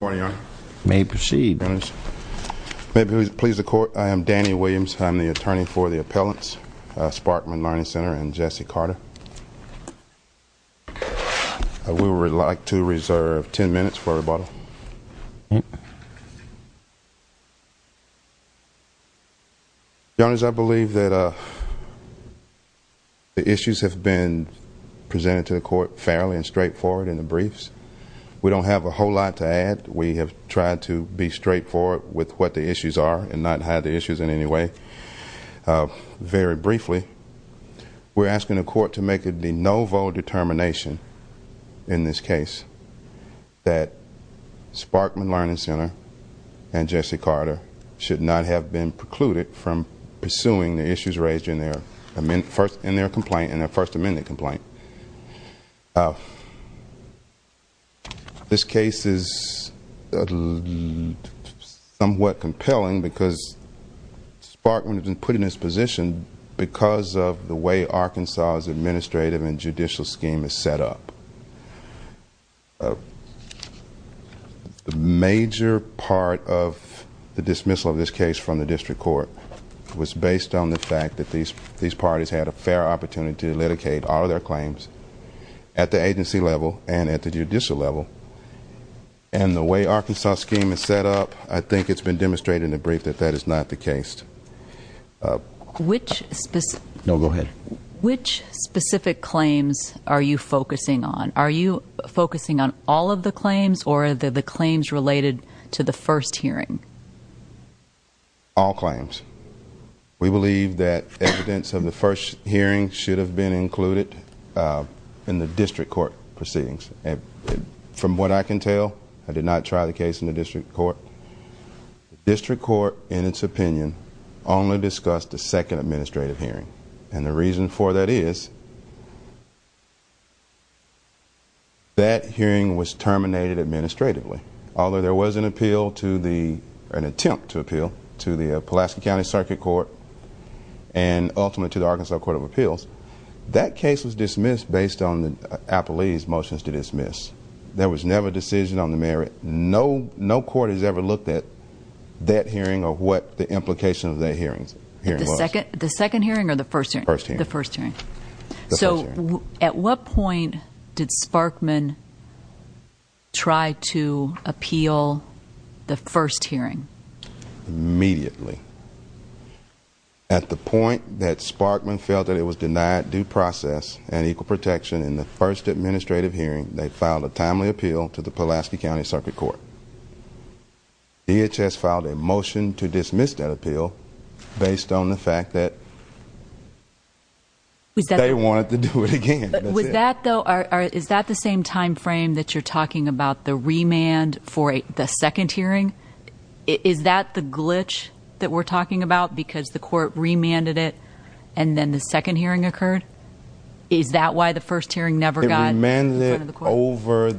May it please the Court, I am Danny Williams. I'm the attorney for the appellants, Sparkman Learning Center and Jesse Carter. I would like to reserve ten minutes for rebuttal. Your Honor, I believe that the issues have been presented to the Court fairly and straightforward in the briefs. We don't have a whole lot to add. We have tried to be straightforward with what the issues are and not hide the issues in any way. Very briefly, we're asking the Court to make a de novo determination in this case that Sparkman Learning Center and Jesse Carter should not have been precluded from pursuing the issues raised in their complaint and their First Amendment complaint. This case is somewhat compelling because Sparkman has been put in this position because of the way Arkansas's administrative and judicial scheme is set up. A major part of the dismissal of this case from the District Court was based on the fact that these parties had a fair opportunity to litigate all of their claims at the agency level and at the judicial level. And the way Arkansas's scheme is set up, I think it's been demonstrated in the brief that that is not the case. Which specific claims are you focusing on? Are you focusing on all of the claims or are the claims related to the first hearing? All claims. We believe that evidence of the first hearing should have been included in the District Court proceedings. From what I can tell, I did not try the case in the District Court. The District Court, in its opinion, only discussed the second administrative hearing. And the reason for that is that hearing was terminated administratively, although there was an attempt to appeal to the Pulaski County Circuit Court and ultimately to the Arkansas Court of Appeals. That case was dismissed based on the appellee's motions to dismiss. There was never a decision on the merit. No court has ever looked at that hearing or what the implication of that hearing was. The second hearing or the first hearing? The first hearing. So at what point did Sparkman try to appeal the first hearing? Immediately. Immediately. At the point that Sparkman felt that it was denied due process and equal protection in the first administrative hearing, they filed a timely appeal to the Pulaski County Circuit Court. DHS filed a motion to dismiss that appeal based on the fact that they wanted to do it again. But is that the same time frame that you're talking about? The remand for the second hearing? Is that the glitch that we're talking about? Because the court remanded it and then the second hearing occurred? Is that why the first hearing never got remanded over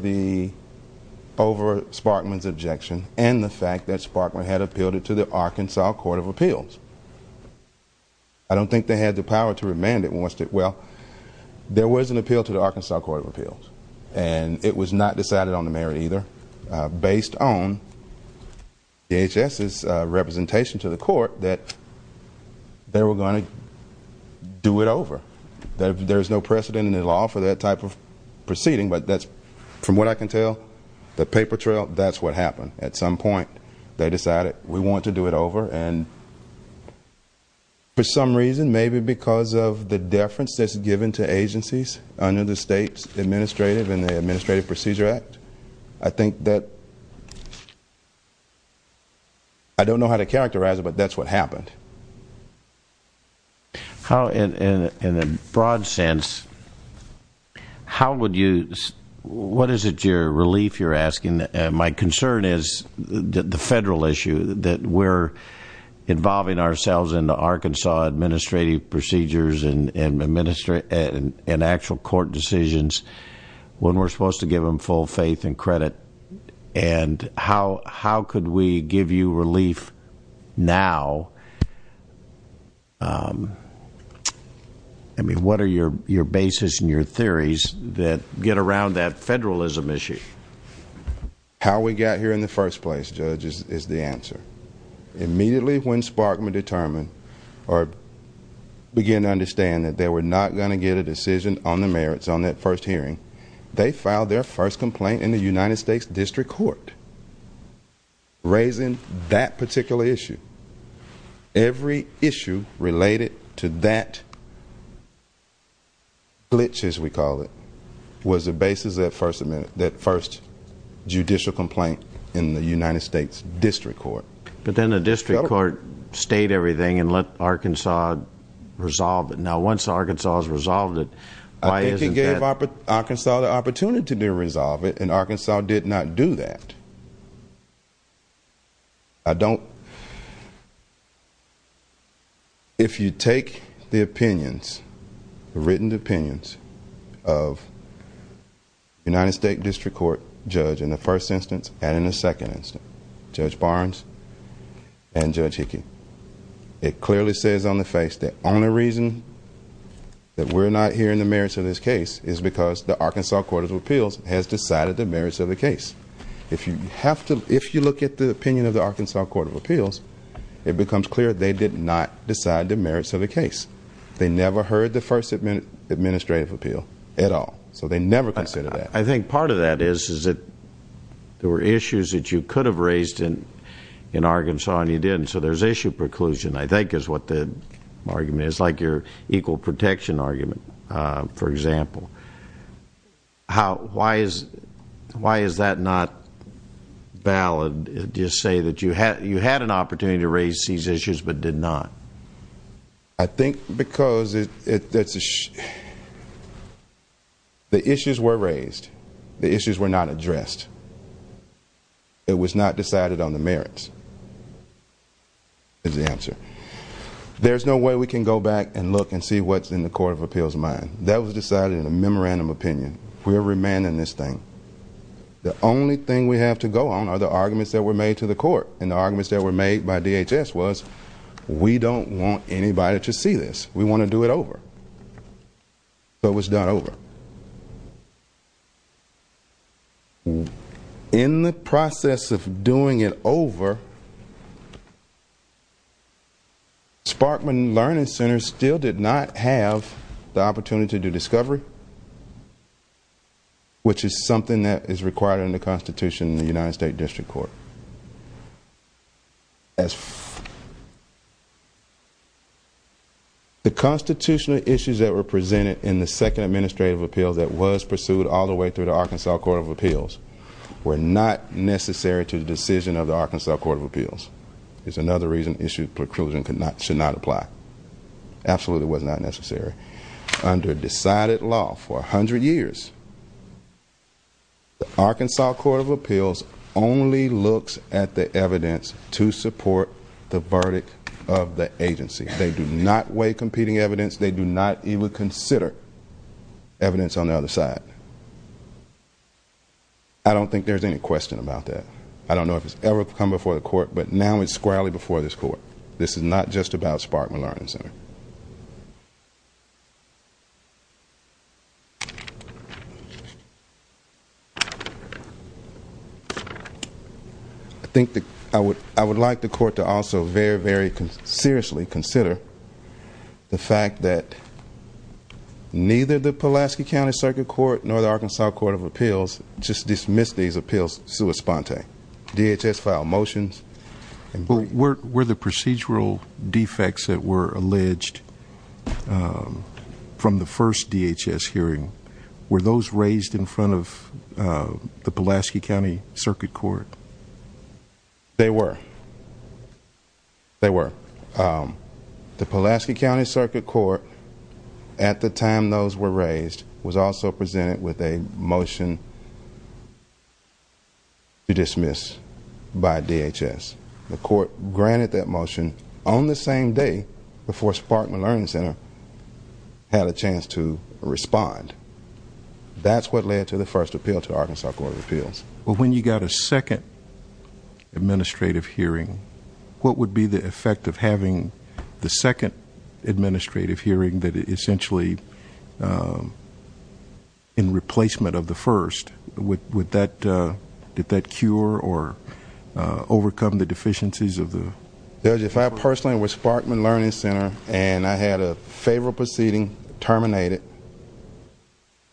Sparkman's objection and the fact that Sparkman had appealed it to the Arkansas Court of Appeals? I don't think they had the power to remand it. Well, there was an appeal to the Arkansas Court of Appeals and it was not decided on the merit either based on DHS's representation to the court that they were going to do it over. There's no precedent in the law for that type of proceeding, but that's, from what I can tell, the paper trail, that's what happened. At some point they decided we want to do it over and for some reason, maybe because of the deference that's given to agencies under the state's administrative and the Administrative Procedure Act, I think that, I don't know how to characterize it, but that's what happened. In a broad sense, how would you, what is it your relief you're asking? My concern is the federal issue, that we're involving ourselves in the Arkansas Administrative Procedures and actual court decisions when we're supposed to give them full faith and credit and how could we give you relief now? I mean, what are your basis and your theories that get around that federalism issue? How we got here in the first place, Judge, is the answer. Immediately when Sparkman determined, or began to understand that they were not going to get a judicial complaint in the United States District Court, raising that particular issue, every issue related to that glitch, as we call it, was the basis of that first judicial complaint in the United States District Court. But then the District Court stayed everything and let Arkansas resolve it. Now once Arkansas has resolved it, why isn't that... I think they gave Arkansas the opportunity to resolve it and Arkansas did not do that. I don't... If you take the opinions, the written opinions of United States District Court judge in the first instance and in the second instance, Judge Barnes and Judge Hickey, it clearly says on the face that the only reason that we're not hearing the merits of this case is because the Arkansas Court of Appeals has decided the merits of the case. If you look at the opinion of the Arkansas Court of Appeals, it becomes clear they did not decide the merits of the case. They never heard the first administrative appeal at all. So they never considered that. I think part of that is that there were issues that you could have raised in Arkansas and you didn't. So there's issue preclusion, I think, is what the argument is, like your equal protection argument, for example. Why is that not valid to say that you had an opportunity to raise these issues but did not? I think because the issues were raised. The issues were not addressed. It was not decided on the merits, is the answer. There's no way we can go back and look and see what's in the Court of Appeals mind. That was decided in a memorandum opinion. We're remanding this thing. The only thing we have to go on are the arguments that were made to the court. And the arguments that were made by DHS was, we don't want anybody to see this. We want to do it over. So it was done over. In the process of doing it over, Sparkman Learning Center still did not have the opportunity to do discovery, which is something that is required in the Constitution in the United States District Court. The constitutional issues that were presented in the second administrative appeal that was pursued all the way through the Arkansas Court of Appeals were not necessary to the decision of the Arkansas Court of Appeals. It's another reason issue preclusion should not apply. Absolutely was not necessary. Under decided law for 100 years, the Arkansas Court of Appeals only looks at the evidence to support the verdict of the agency. They do not weigh competing evidence. They do not even consider evidence on the other side. I don't think there's any question about that. I don't know if it's ever come before the court, but now it's squarely before this court. This is not just about Sparkman Learning Center. I would like the court to also very, very seriously consider the fact that neither the Pulaski County Circuit Court nor the Arkansas Court of Appeals just dismissed these appeals sui sponte. DHS filed motions and were the procedural defects that were alleged from the first DHS hearing. Were those raised in front of the Pulaski County Circuit Court? They were. They were. The Pulaski County Circuit Court at the time those were raised was also presented with a motion to dismiss by DHS. The court granted that motion on the same day before Sparkman Learning Center had a chance to respond. That's what led to the first appeal to Arkansas Court of Appeals. But when you got a second administrative hearing, what would be the effect of having the second administrative hearing essentially in replacement of the first? Did that cure or overcome the deficiencies? Judge, if I personally was Sparkman Learning Center and I had a favorable proceeding terminated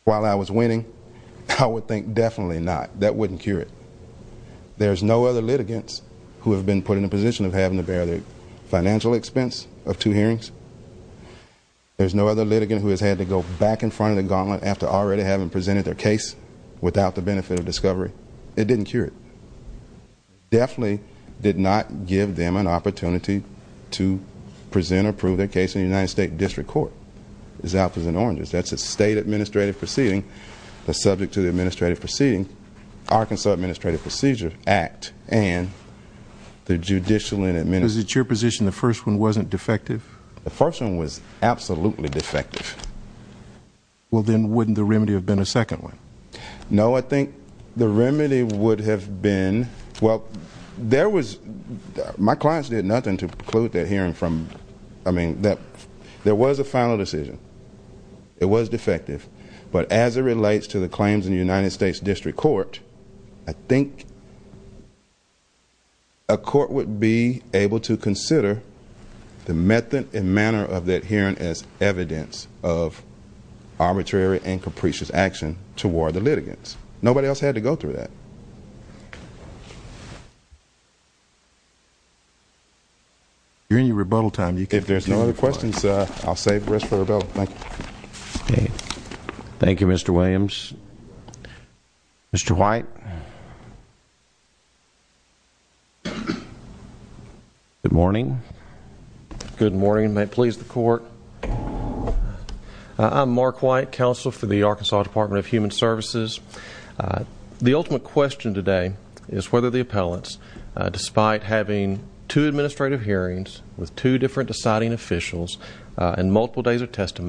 while I was winning, I would think that the court in the position of having to bear the financial expense of two hearings. There's no other litigant who has had to go back in front of the gauntlet after already having presented their case without the benefit of discovery. It didn't cure it. Definitely did not give them an opportunity to present or prove their case in the United States District Court. That's a state administrative proceeding. The subject to the administrative proceeding, Arkansas Administrative Procedure Act and the judicial and administrative. The first one was absolutely defective. Well, then wouldn't the remedy have been a second one? No, I think the remedy would have been, well, there was, my clients did nothing to it. I think a court would be able to consider the method and manner of that hearing as evidence of arbitrary and capricious action toward the litigants. Nobody else had to go through that. During your rebuttal time, you can see that there was a confusion. I'm Mark White, counsel for the Arkansas Department of Human Services. The ultimate question today is whether the appellants, despite having two administrative hearings with two different deciding officials and multiple days of litigation,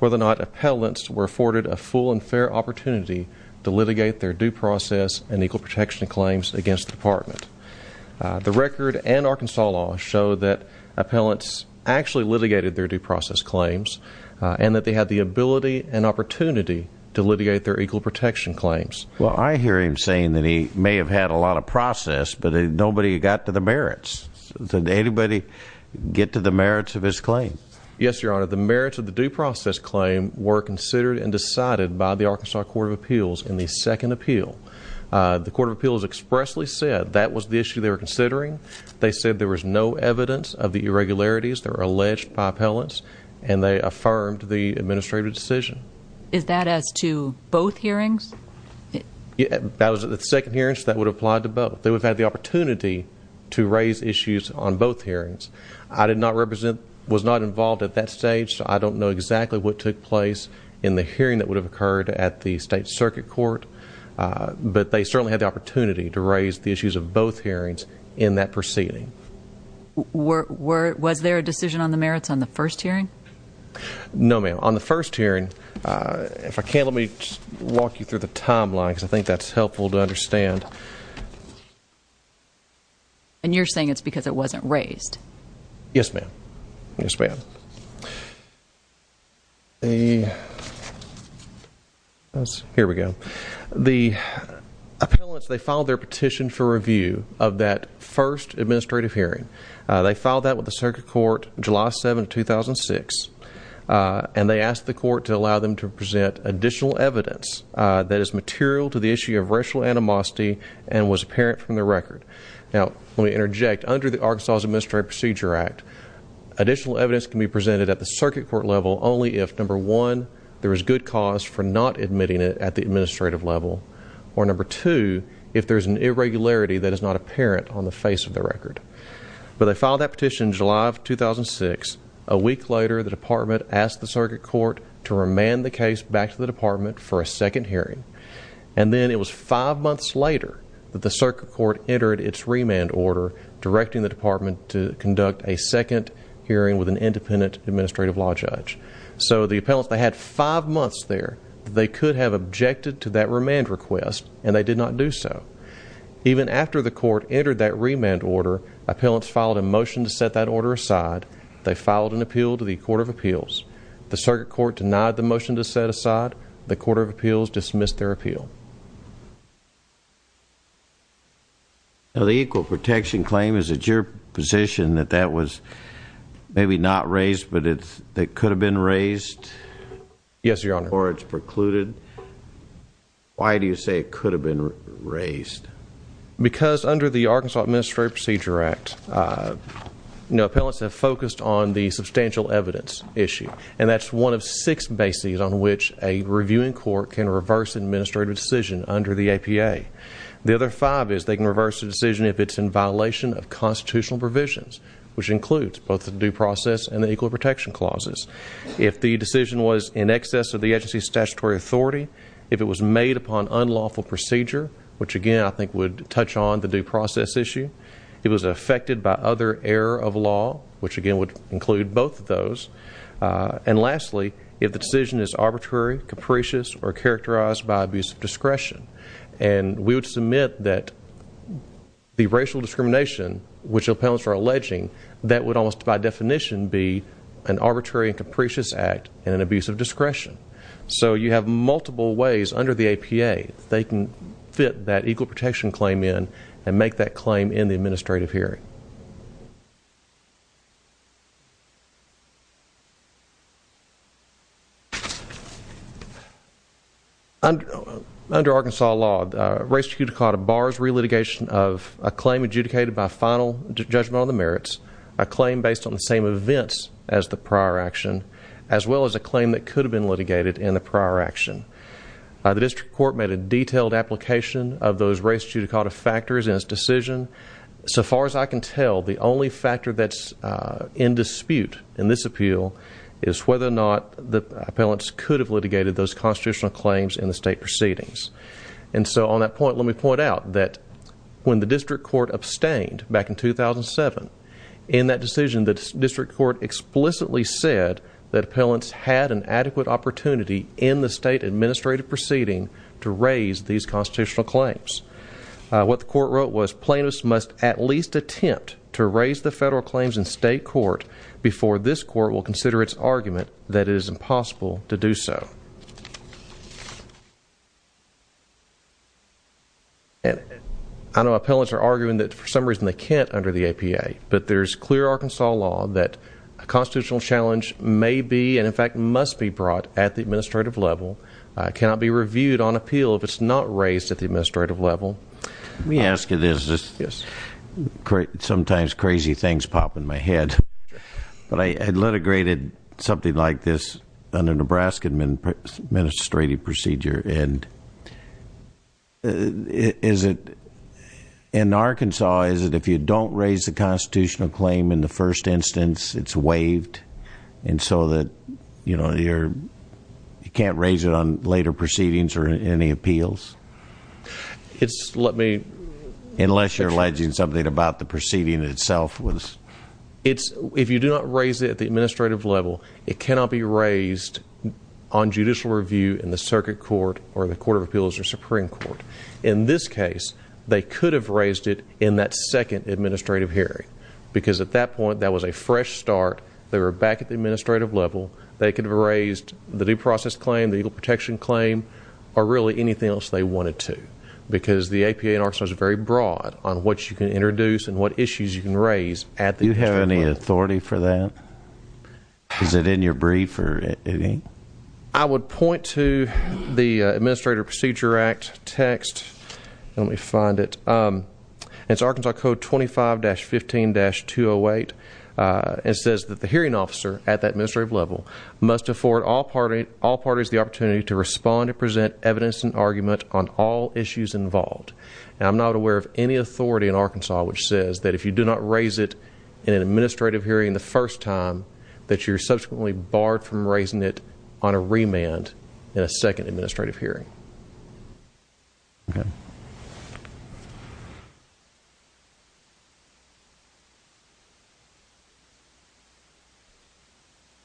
whether or not appellants were afforded a full and fair opportunity to litigate their due process and equal protection claims against the department. The record and Arkansas law show that appellants actually litigated their due process claims and that they had the ability and opportunity to litigate their equal protection claims. Well, I hear him saying that he may have had a lot of process, but nobody got to the merits. Did anybody get to the merits of his claim? Yes, Your Honor. The merits of the due process claim were considered and decided by the Arkansas Court of Appeals in the second appeal. The Court of Appeals expressly said that was the issue they were considering. They said there was no evidence of the irregularities that were occurring. That was the second hearing, so that would apply to both. They would have had the opportunity to raise issues on both hearings. I did not represent, was not involved at that stage, so I don't know exactly what took place in the hearing that would have occurred at the State Circuit Court, but they certainly had the opportunity to raise the issues of both hearings in that proceeding. Was there a decision on the merits on the first hearing? No, ma'am. On the first hearing, if I can, let me just walk you through the timeline, because I think that's helpful to understand. And you're saying it's because it wasn't raised? Yes, ma'am. Here we go. The appellants, they filed their petition for review of that first hearing on July 7, 2006, and they asked the court to allow them to present additional evidence that is material to the issue of racial animosity and was apparent from the record. Now, let me interject. Under the Arkansas Administrative Procedure Act, additional evidence can be presented at the circuit court level only if, number one, there is good cause for not admitting it at the administrative level, or, number two, if there is an irregularity that is not Now, on July 5, 2006, a week later, the department asked the circuit court to remand the case back to the department for a second hearing, and then it was five months later that the circuit court entered its remand order directing the department to conduct a second hearing with an independent administrative law judge. So the appellants, they had five months there. They could have objected to that remand request, and they did not do so. Even after the court entered that remand order, appellants filed a motion to set that order aside. They filed an appeal to the Court of Appeals. The circuit court denied the motion to set aside. The Court of Appeals dismissed their appeal. Now, the equal protection claim, is it your position that that was maybe not raised, but it could have been raised? Yes, Your Honor. Or it's precluded? Why do you say it could have been raised? Because under the Arkansas Administrative Procedure Act, you know, appellants have focused on the substantial evidence issue, and that's one of six bases on which a reviewing court can reverse an administrative decision under the APA. The other five is they can reverse a decision if it's in violation of constitutional provisions, which includes both the due process and the equal protection clauses. If the decision was in excess of the agency's statutory authority, if it was made upon unlawful procedure, which again I think would touch on the due process issue, if it was affected by other error of law, which again would include both of those, and lastly, if the decision is arbitrary, capricious, or characterized by abuse of discretion. And we would submit that the racial discrimination which appellants are alleging, that would almost by definition be an arbitrary and capricious act and an abuse of discretion. So you have multiple ways under the APA that they can fit that equal protection claim in and make that claim in the case. Under Arkansas law, race judicata bars relitigation of a claim adjudicated by final judgment on the merits, a claim based on the same events as the prior action, as well as a claim that could have been litigated in the prior action. The district court made a detailed application of those race judicata factors in its decision. So far as I can tell, the only factor that's in dispute in this appeal is whether or not the appellants could have litigated those constitutional claims in the state proceedings. And so on that point, let me point out that when the district court abstained back in 2007, in that decision, the district court explicitly said that appellants had an adequate opportunity in the state administrative proceeding to raise these constitutional claims. What the court wrote was plaintiffs must at least attempt to raise the federal claims in state court before this court will consider its argument that it is impossible to do so. I know appellants are arguing that for some reason they can't under the APA, but there's clear Arkansas law that a constitutional challenge may be and in fact must be raised at the administrative level, cannot be reviewed on appeal if it's not raised at the administrative level. Let me ask you this. Sometimes crazy things pop in my head. But I had litigated something like this under Nebraska administrative procedure and is it in Arkansas, is it if you don't raise the constitutional claim in the first instance, it's waived and so that you can't raise it on later proceedings or any appeals? Unless you're alleging something about the proceeding itself. If you do not raise it at the administrative level, it cannot be raised on judicial review in the circuit court or the court of appeals or Supreme Court. In this case, they could have raised it in that second administrative hearing because at that point that was a fresh start. They were back at the administrative level. They could have raised the due process claim, the legal protection claim or really anything else they wanted to because the APA in Arkansas is very broad on what you can introduce and what issues you can raise. Do you have any authority for that? Is it in your brief or anything? I would point to the Administrative Procedure Act text. Let me find it. It's Arkansas Code 25-15-208. It says that the hearing officer at the administrative level must afford all parties the opportunity to respond and present evidence and argument on all issues involved. I'm not aware of any authority in Arkansas which says that if you do not raise it in an administrative hearing the first time, that you're subsequently barred from raising it on a remand in a second administrative hearing.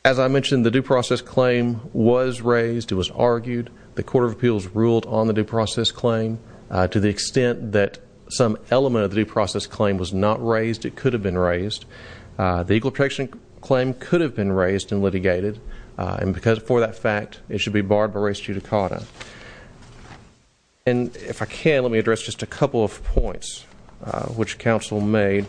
As I mentioned, the due process claim was raised. It was argued. The court of appeals ruled on the due process claim. To the extent that some element of the due process claim was not raised, it could have been raised. The legal protection claim could have been raised and litigated. For that fact, it should be barred by res judicata. If I can, let me address just a couple of points which counsel made.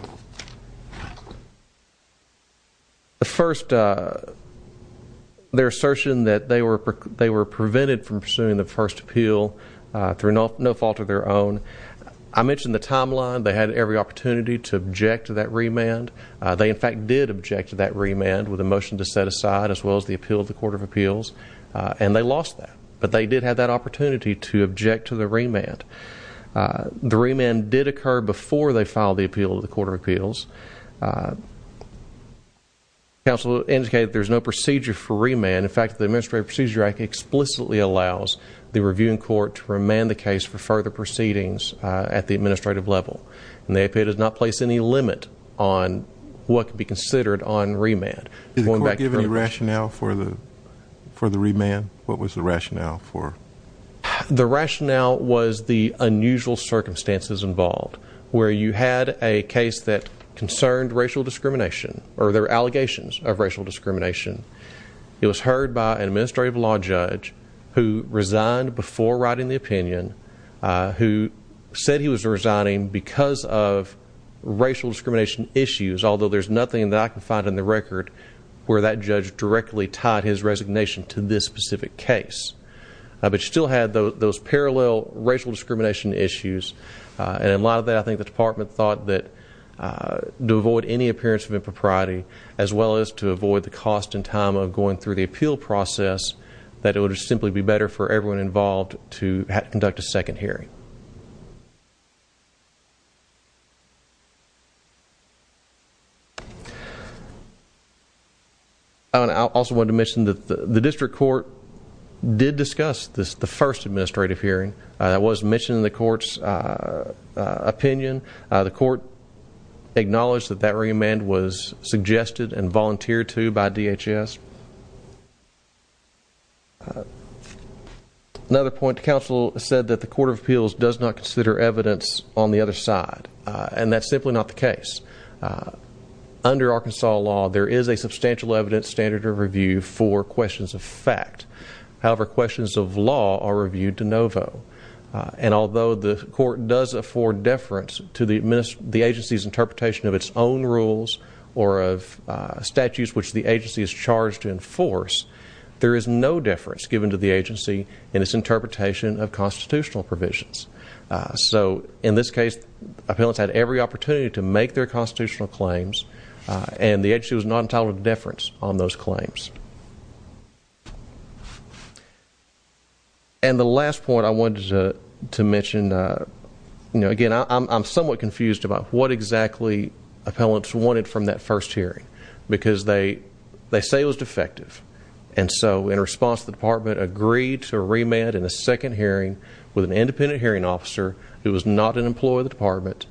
Their assertion that they were prevented from pursuing the first appeal through no fault of their own. I mentioned the timeline. They had every opportunity to object to that remand. They in fact did object to that remand with a motion to set aside as well as the appeal of the court of appeals. And they lost that. But they did have that opportunity to object to the remand. The remand did occur before they filed the appeal of the court of appeals. Counsel indicated there's no procedure for remand. In fact, the Administrative Procedure Act explicitly allows the reviewing court to remand the case for further proceedings at the administrative level. And the APA does not place any limit on what could be considered on remand. What was the rationale for the remand? The rationale was the unusual circumstances involved, where you had a case that concerned racial discrimination or there were allegations of racial discrimination. It was heard by an administrative law judge who resigned before writing the opinion, who said he was resigning because of racial discrimination issues, although there's nothing that I can find in the record where that judge directly tied his resignation to this specific case. But you still had those parallel racial discrimination issues. And in light of that, I think the Department thought that to avoid any appearance of impropriety, as well as to avoid the cost and time of going through the appeal process, that it would simply be better for everyone involved to conduct a second hearing. Thank you. I also wanted to mention that the District Court did discuss the first administrative hearing. It was mentioned in the Court's opinion. The Court acknowledged that that remand was suggested and volunteered to by DHS. Another point. The Council said that the Court of Appeals does not consider evidence on the other side, and that's simply not the case. Under Arkansas law, there is a substantial evidence standard of review for questions of fact. However, questions of law are reviewed de novo. And although the Court does afford deference to the agency's interpretation of its own rules or of statutes which the agency is charged to enforce, there is no deference given to the agency in its interpretation of constitutional provisions. So, in this case, appellants had every opportunity to make their constitutional claims, and the agency was not entitled to deference on those claims. And the last point I wanted to address is what the appellants wanted from that first hearing, because they say it was defective. And so, in response, the Department agreed to remand in a second hearing with an independent hearing officer who was not an employee of the Department,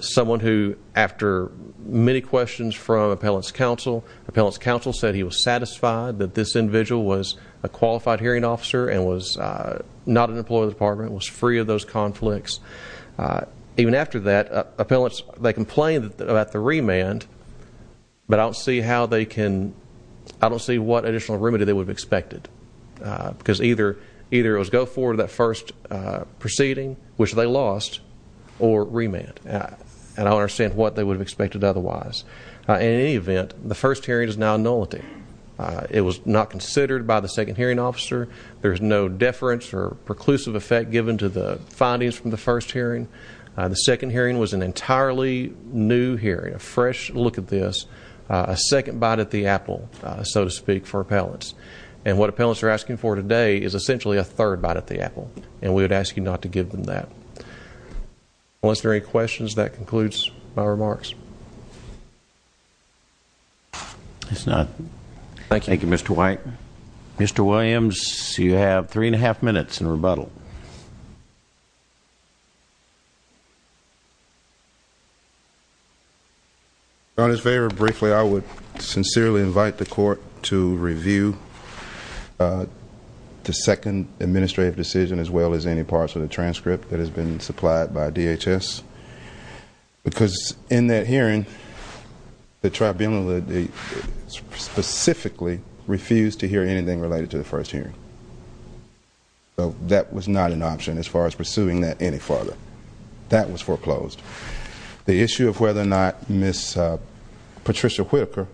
someone who, after many questions from Appellants Council, Appellants Council said he was satisfied that this individual was a qualified hearing officer and was not an employee of the Department. I don't see how they can, I don't see what additional remedy they would have expected. Because either it was go forward to that first proceeding, which they lost, or remand. And I don't understand what they would have expected otherwise. In any event, the first hearing is now nullity. It was not considered by the second hearing officer. There is no deference or new hearing. A fresh look at this. A second bite at the apple, so to speak, for appellants. And what appellants are asking for today is essentially a third bite at the apple. And we would ask you not to give them that. Unless there are any questions, that concludes my remarks. Thank you, Mr. White. Mr. Williams, you have three and a half minutes in rebuttal. On his favor, briefly, I would sincerely invite the court to review the second administrative decision as well as any parts of the transcript that has been supplied by DHS. Because in that hearing, the tribunal specifically refused to hear anything related to the first hearing. So that was not an option as far as pursuing that any further. That was foreclosed. The issue of whether or not Ms. Patricia Whitaker,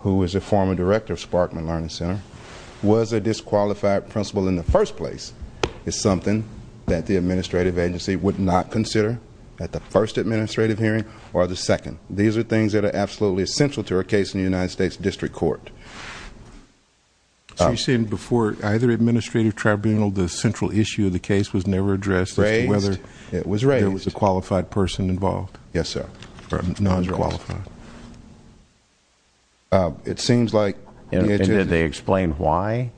who is a former director of Sparkman Learning Center, was a disqualified principal in the first place is something that the administrative agency would not consider at the first administrative hearing or the second. These are things that are absolutely essential to a case in the United States District Court. So you're saying before either administrative tribunal, the central issue of the case was never addressed as to whether there was a qualified person involved? Yes, sir. Nones are qualified. And did they explain why?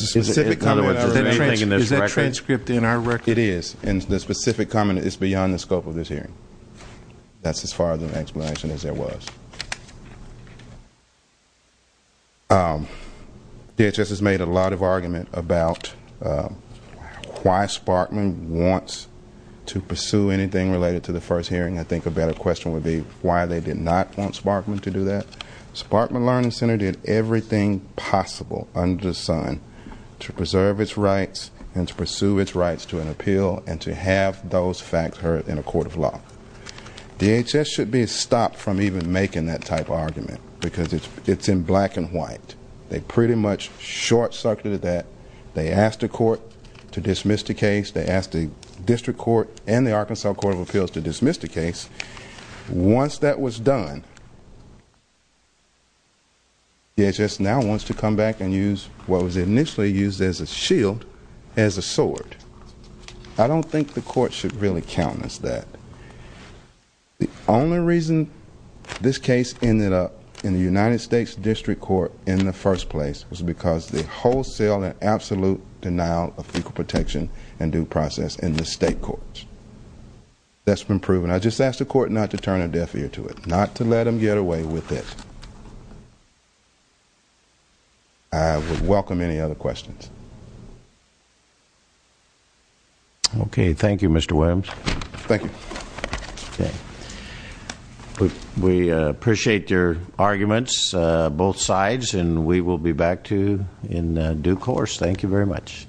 Is that transcript in our record? It is. And the specific comment is beyond the scope of this hearing. That's as far as an explanation as there was. DHS has made a lot of argument about why Sparkman wants to pursue anything related to the first hearing. I think a better question would be why they did not want Sparkman to do that. Sparkman Learning Center did everything possible under the sun to preserve its rights and to pursue its rights to an appeal and to have those facts heard in a court of law. DHS should be stopped from even making that type of argument because it's in black and white. They pretty much short circuited that. They asked the court to dismiss the case. They asked the District Court and the Arkansas Court of Appeals to dismiss the case. Once that was done, DHS now wants to come back and use what was initially used as a shield as a sword. I don't think the court should really countenance that. The only reason this case ended up in the United States District Court in the first place was because the wholesale and absolute denial of legal protection and due process in the state courts. That's been proven. I just ask the court not to turn a deaf ear to it. Not to let them get away with it. I would welcome any other questions. Okay. Thank you Mr. Williams. Thank you. We appreciate your arguments both sides. We will be back to you in due course. Thank you very much.